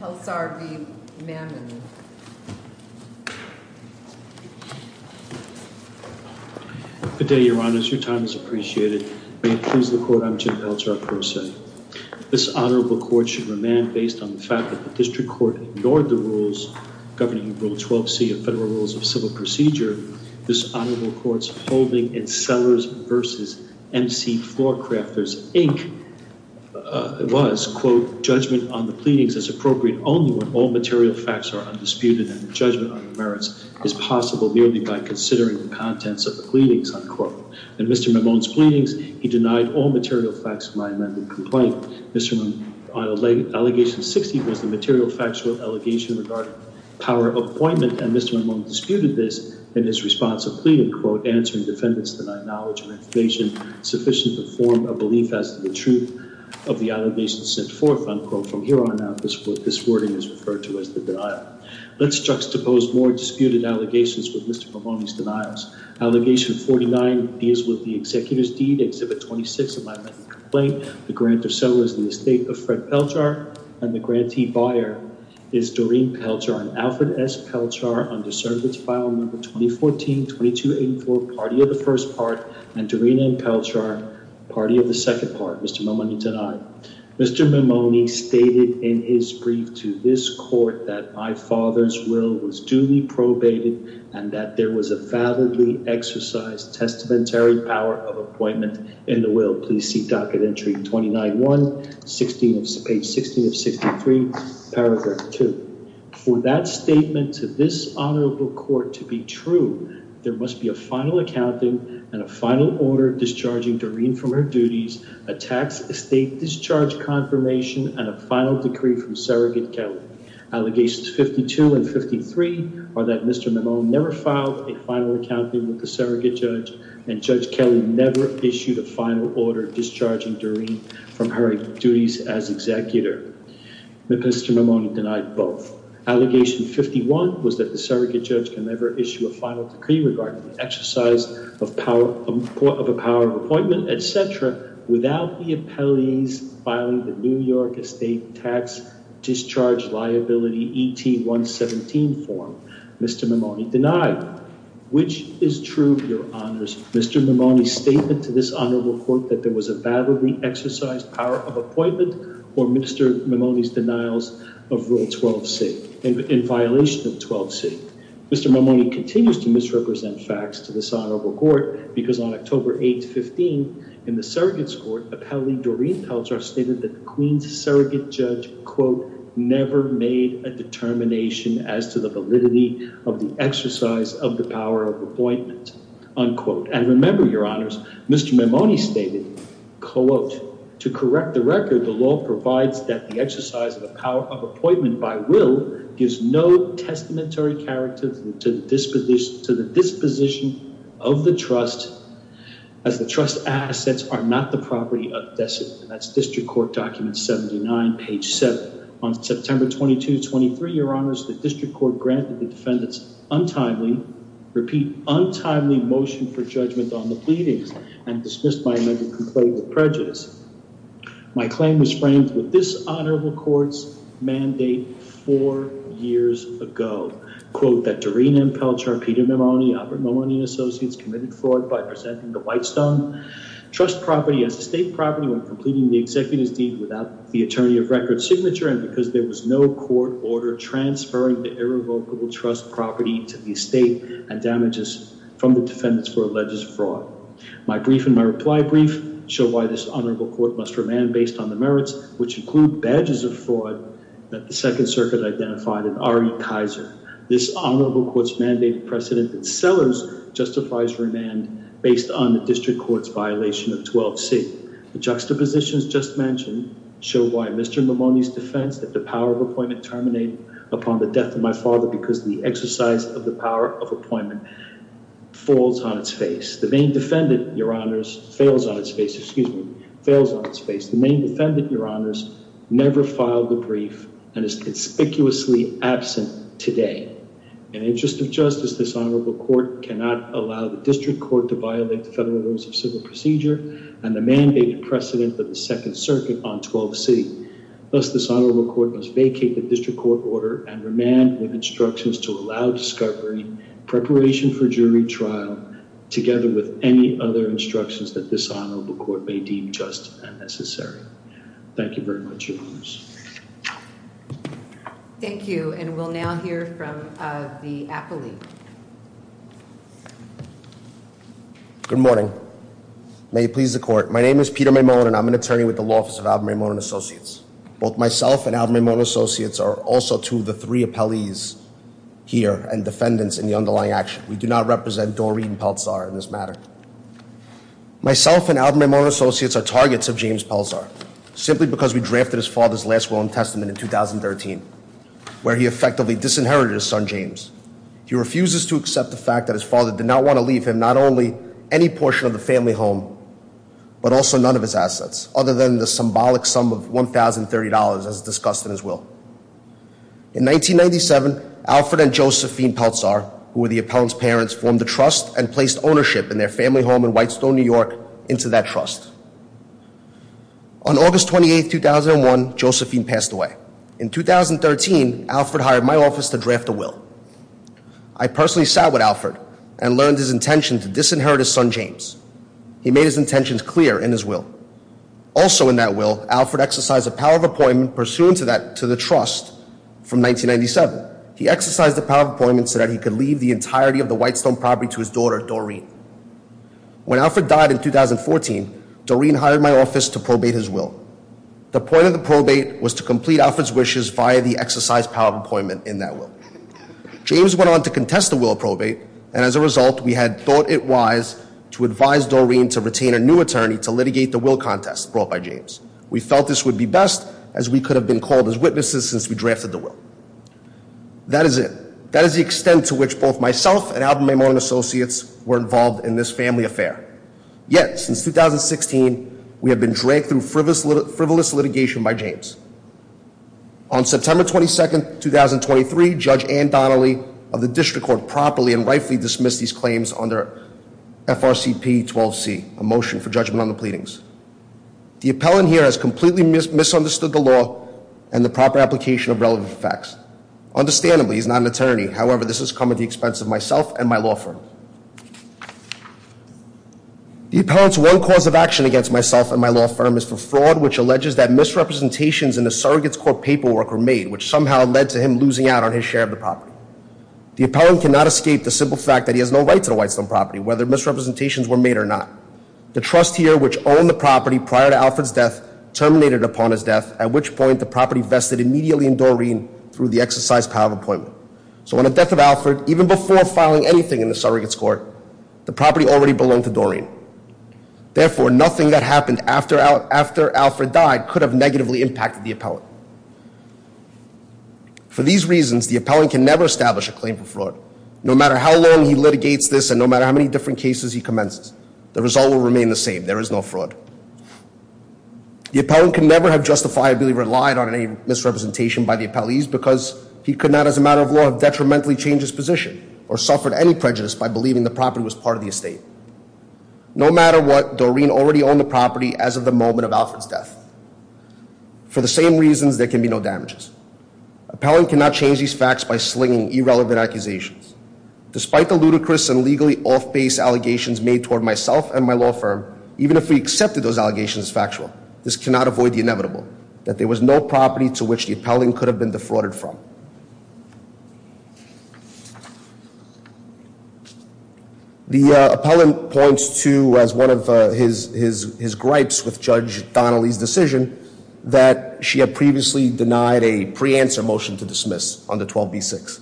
Pelczar v. Mammon Good day, your honors. Your time is appreciated. May it please the court, I'm Jim Pelczar, first set. This honorable court should remand based on the fact that the district court ignored the rules governing rule 12c of federal rules of civil procedure. This honorable court's holding in Sellers v. M.C. Floor Crafters, Inc. was, quote, judgment on the pleadings as appropriate only when all material facts are undisputed and judgment on the merits is possible merely by considering the contents of the pleadings, unquote. In Mr. Mammon's pleadings, he denied all material facts of my amended complaint. Mr. Mammon's allegation 60 was the material factual allegation regarding power of appointment and Mr. Mammon disputed this in his response of pleading, quote, answering defendants denied knowledge or information sufficient to form a belief as to the truth of the allegations sent forth, unquote. From here on out, this wording is referred to as the denial. Let's juxtapose more disputed allegations with Mr. Mammon's denials. Allegation 49 is with the executor's deed, Exhibit 26 of my amended complaint, the grant of Sellers in the estate of Fred Pelczar, and the grantee buyer is Doreen Pelczar and Alfred S. Pelczar under service file number 2014-2284, party of the first part, and Doreen and Pelczar, party of the second part. Mr. Mammon denied. Mr. Mammon stated in his brief to this court that my father's will was duly probated and that there was a validly exercised testamentary power of appointment in the will. Please see docket entry 29-1, page 16 of 63, paragraph 2. For that statement to this honorable court to be true, there must be a final accounting and a final order discharging Doreen from her duties, a tax estate discharge confirmation, and a final decree from surrogate Kelly. Allegations 52 and 53 are that Mr. Mammon never filed a final accounting with the surrogate judge and Judge Kelly never issued a final order discharging Doreen from her duties as executor. Mr. Mammon denied both. Allegation 51 was that the surrogate judge can never issue a final decree regarding the exercise of a power of appointment, etc., without the appellees filing the New York estate tax discharge liability ET-117 form. Mr. Mammon denied. Which is true, your honors? Mr. Mammon's statement to this honorable court that there was a validly exercised power of appointment for Mr. Mammon's denials of Rule 12C, in violation of 12C. Mr. Mammon continues to misrepresent facts to this honorable court because on October 8, 15, in the surrogate's court, appellee Doreen Peltzer stated that the queen's surrogate judge, quote, never made a determination as to the validity of the exercise of the power of appointment, unquote. And remember, your honors, Mr. Mammon stated, quote, to correct the record, the law provides that the exercise of the power of appointment by will gives no testamentary character to the disposition of the trust, as the trust assets are not the property of the decedent. That's district court document 79, page 7. On September 22, 23, your honors, the district court granted the defendants untimely, repeat, untimely motion for judgment on the pleadings and dismissed my amended complaint with prejudice. My claim was framed with this honorable court's mandate four years ago. Quote, that Doreen and Peltzer and Peter Mammon, Albert Mammon and Associates committed fraud by presenting the Whitestone Trust property as estate property when completing the executive's deed without the attorney of record signature and because there was no court order transferring the irrevocable trust property to the estate and damages from the defendants for alleged fraud. My brief and my reply brief show why this honorable court must remand based on the merits, which include badges of fraud that the second circuit identified in Ari Kaiser. This honorable court's mandate precedent that Sellers justifies remand based on the district court's violation of 12C. The juxtapositions just mentioned show why Mr. Mammon's defense that the power of appointment terminated upon the death of my father because the exercise of the power of appointment falls on its face. The main defendant, your honors, fails on its face, excuse me, fails on its face. The main defendant, your honors, never filed the brief and is conspicuously absent today. In the interest of justice, this honorable court cannot allow the district court to violate the federal rules of civil procedure and the mandated precedent of the second circuit on 12C. Thus, this honorable court must vacate the district court order and remand with instructions to allow discovery, preparation for jury trial, together with any other instructions that this honorable court may deem just and necessary. Thank you very much, your honors. Thank you and we'll now hear from the appellee. Good morning. May it please the court. My name is Peter Mammon and I'm an attorney with the Office of Alderman Mammon and Associates. Both myself and Alderman Mammon and Associates are also two of the three appellees here and defendants in the underlying action. We do not represent Doreen Pelzar in this matter. Myself and Alderman Mammon and Associates are targets of James Pelzar, simply because we drafted his father's last will and testament in 2013, where he effectively disinherited his son James. He refuses to accept the fact that his father did not want to leave him not only any portion of the family home, but also none of his assets other than the symbolic sum of $1,030 as discussed in his will. In 1997, Alfred and Josephine Pelzar, who were the appellant's parents, formed a trust and placed ownership in their family home in Whitestone, New York into that trust. On August 28, 2001, Josephine passed away. In 2013, Alfred hired my office to draft a will. I personally sat with Alfred and learned his intention to disinherit his son James. He made his intentions clear in his will. Also in that will, Alfred exercised the power of appointment pursuant to the trust from 1997. He exercised the power of appointment so that he could leave the entirety of the Whitestone property to his daughter, Doreen. When Alfred died in 2014, Doreen hired my office to probate his will. The point of the probate was to complete Alfred's wishes via the exercised power of appointment in that will. James went on to contest the will of probate, and as a result, we had thought it wise to advise Doreen to retain a new attorney to litigate the will contest brought by James. We felt this would be best as we could have been called as witnesses since we drafted the will. That is it. That is the extent to which both myself and Alvin Maymorning Associates were involved in this family affair. Yet, since 2016, we have been dragged through frivolous litigation by James. On September 22nd, 2023, Judge Ann Donnelly of the District Court properly and rightfully dismissed these claims under FRCP 12C, a motion for judgment on the pleadings. The appellant here has completely misunderstood the law and the proper application of relevant facts. Understandably, he's not an attorney. However, this has come at the expense of myself and my law firm. The appellant's one cause of action against myself and my law firm is for fraud, which alleges that misrepresentations in the surrogate's court paperwork were made, which somehow led to him losing out on his share of the property. The appellant cannot escape the simple fact that he has no right to the Whitestone property, whether misrepresentations were made or not. The trust here, which owned the property prior to Alfred's death, terminated upon his death, at which point the property vested immediately in Doreen through the exercise power of appointment. So on the death of Alfred, even before filing anything in the surrogate's court, the property already belonged to Doreen. Therefore, nothing that happened after Alfred died could have negatively impacted the appellant. For these reasons, the appellant can never establish a claim for fraud. No matter how long he litigates this and no matter how many different cases he commences, the result will remain the same. There is no fraud. The appellant can never have justifiably relied on any misrepresentation by the appellees because he could not, as a matter of law, have detrimentally changed his position or suffered any prejudice by believing the property was part of the estate. No matter what, Doreen already owned the property as of the moment of Alfred's death. For the same reasons, there can be no damages. Appellant cannot change these facts by slinging irrelevant accusations. Despite the ludicrous and legally off-base allegations made toward myself and my law firm, even if we accepted those allegations as factual, this cannot avoid the inevitable that there was no property to which the appellant could have been defrauded from. The appellant points to, as one of his gripes with Judge Donnelly's decision, that she had previously denied a pre-answer motion to dismiss on the 12b6.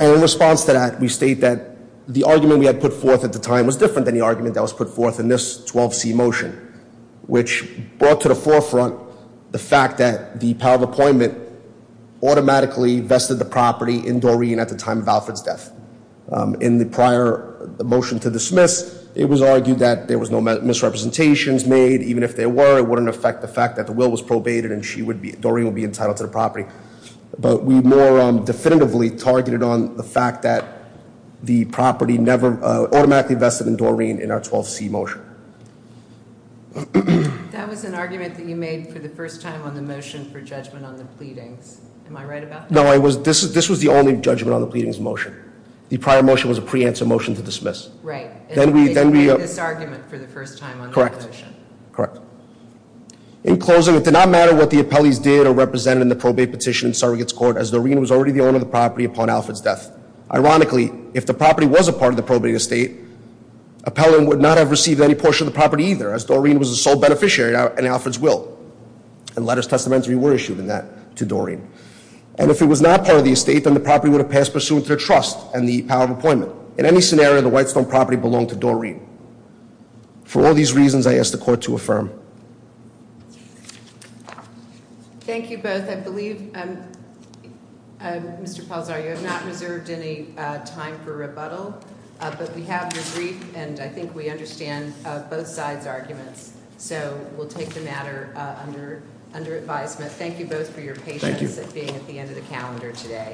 In response to that, we state that the argument we had put forth at the time was different than the argument that was put forth in this 12c motion, which brought to the forefront the fact that the power of appointment automatically vested the property in Doreen at the time of Alfred's death. In the prior motion to dismiss, it was argued that there was no misrepresentations made. Even if there were, it wouldn't affect the fact that the will was probated and Doreen would be entitled to the property. But we more definitively targeted on the fact that the property never automatically vested in Doreen in our 12c motion. That was an argument that you made for the first time on the motion for judgment on the pleadings. Am I right about that? No, this was the only judgment on the pleadings motion. The prior motion was a pre-answer motion to dismiss. Right. Then we made this argument for the first time on the motion. Correct. Correct. In closing, it did not matter what the appellees did or represented in the probate petition in surrogate's court, as Doreen was already the owner of the property upon Alfred's death. Ironically, if the property was a part of the probate estate, appellant would not have received any portion of the property either, as Doreen was the sole beneficiary in Alfred's will. And letters testamentary were issued in that to Doreen. And if it was not part of the estate, then the property would have passed pursuant to their trust and the power of appointment. In any scenario, the Whitestone property belonged to Doreen. For all these reasons, I ask the court to affirm. Thank you both. I believe, Mr. Palzar, you have not reserved any time for rebuttal, but we have I think we understand both sides' arguments, so we'll take the matter under advisement. Thank you both for your patience at being at the end of the calendar today.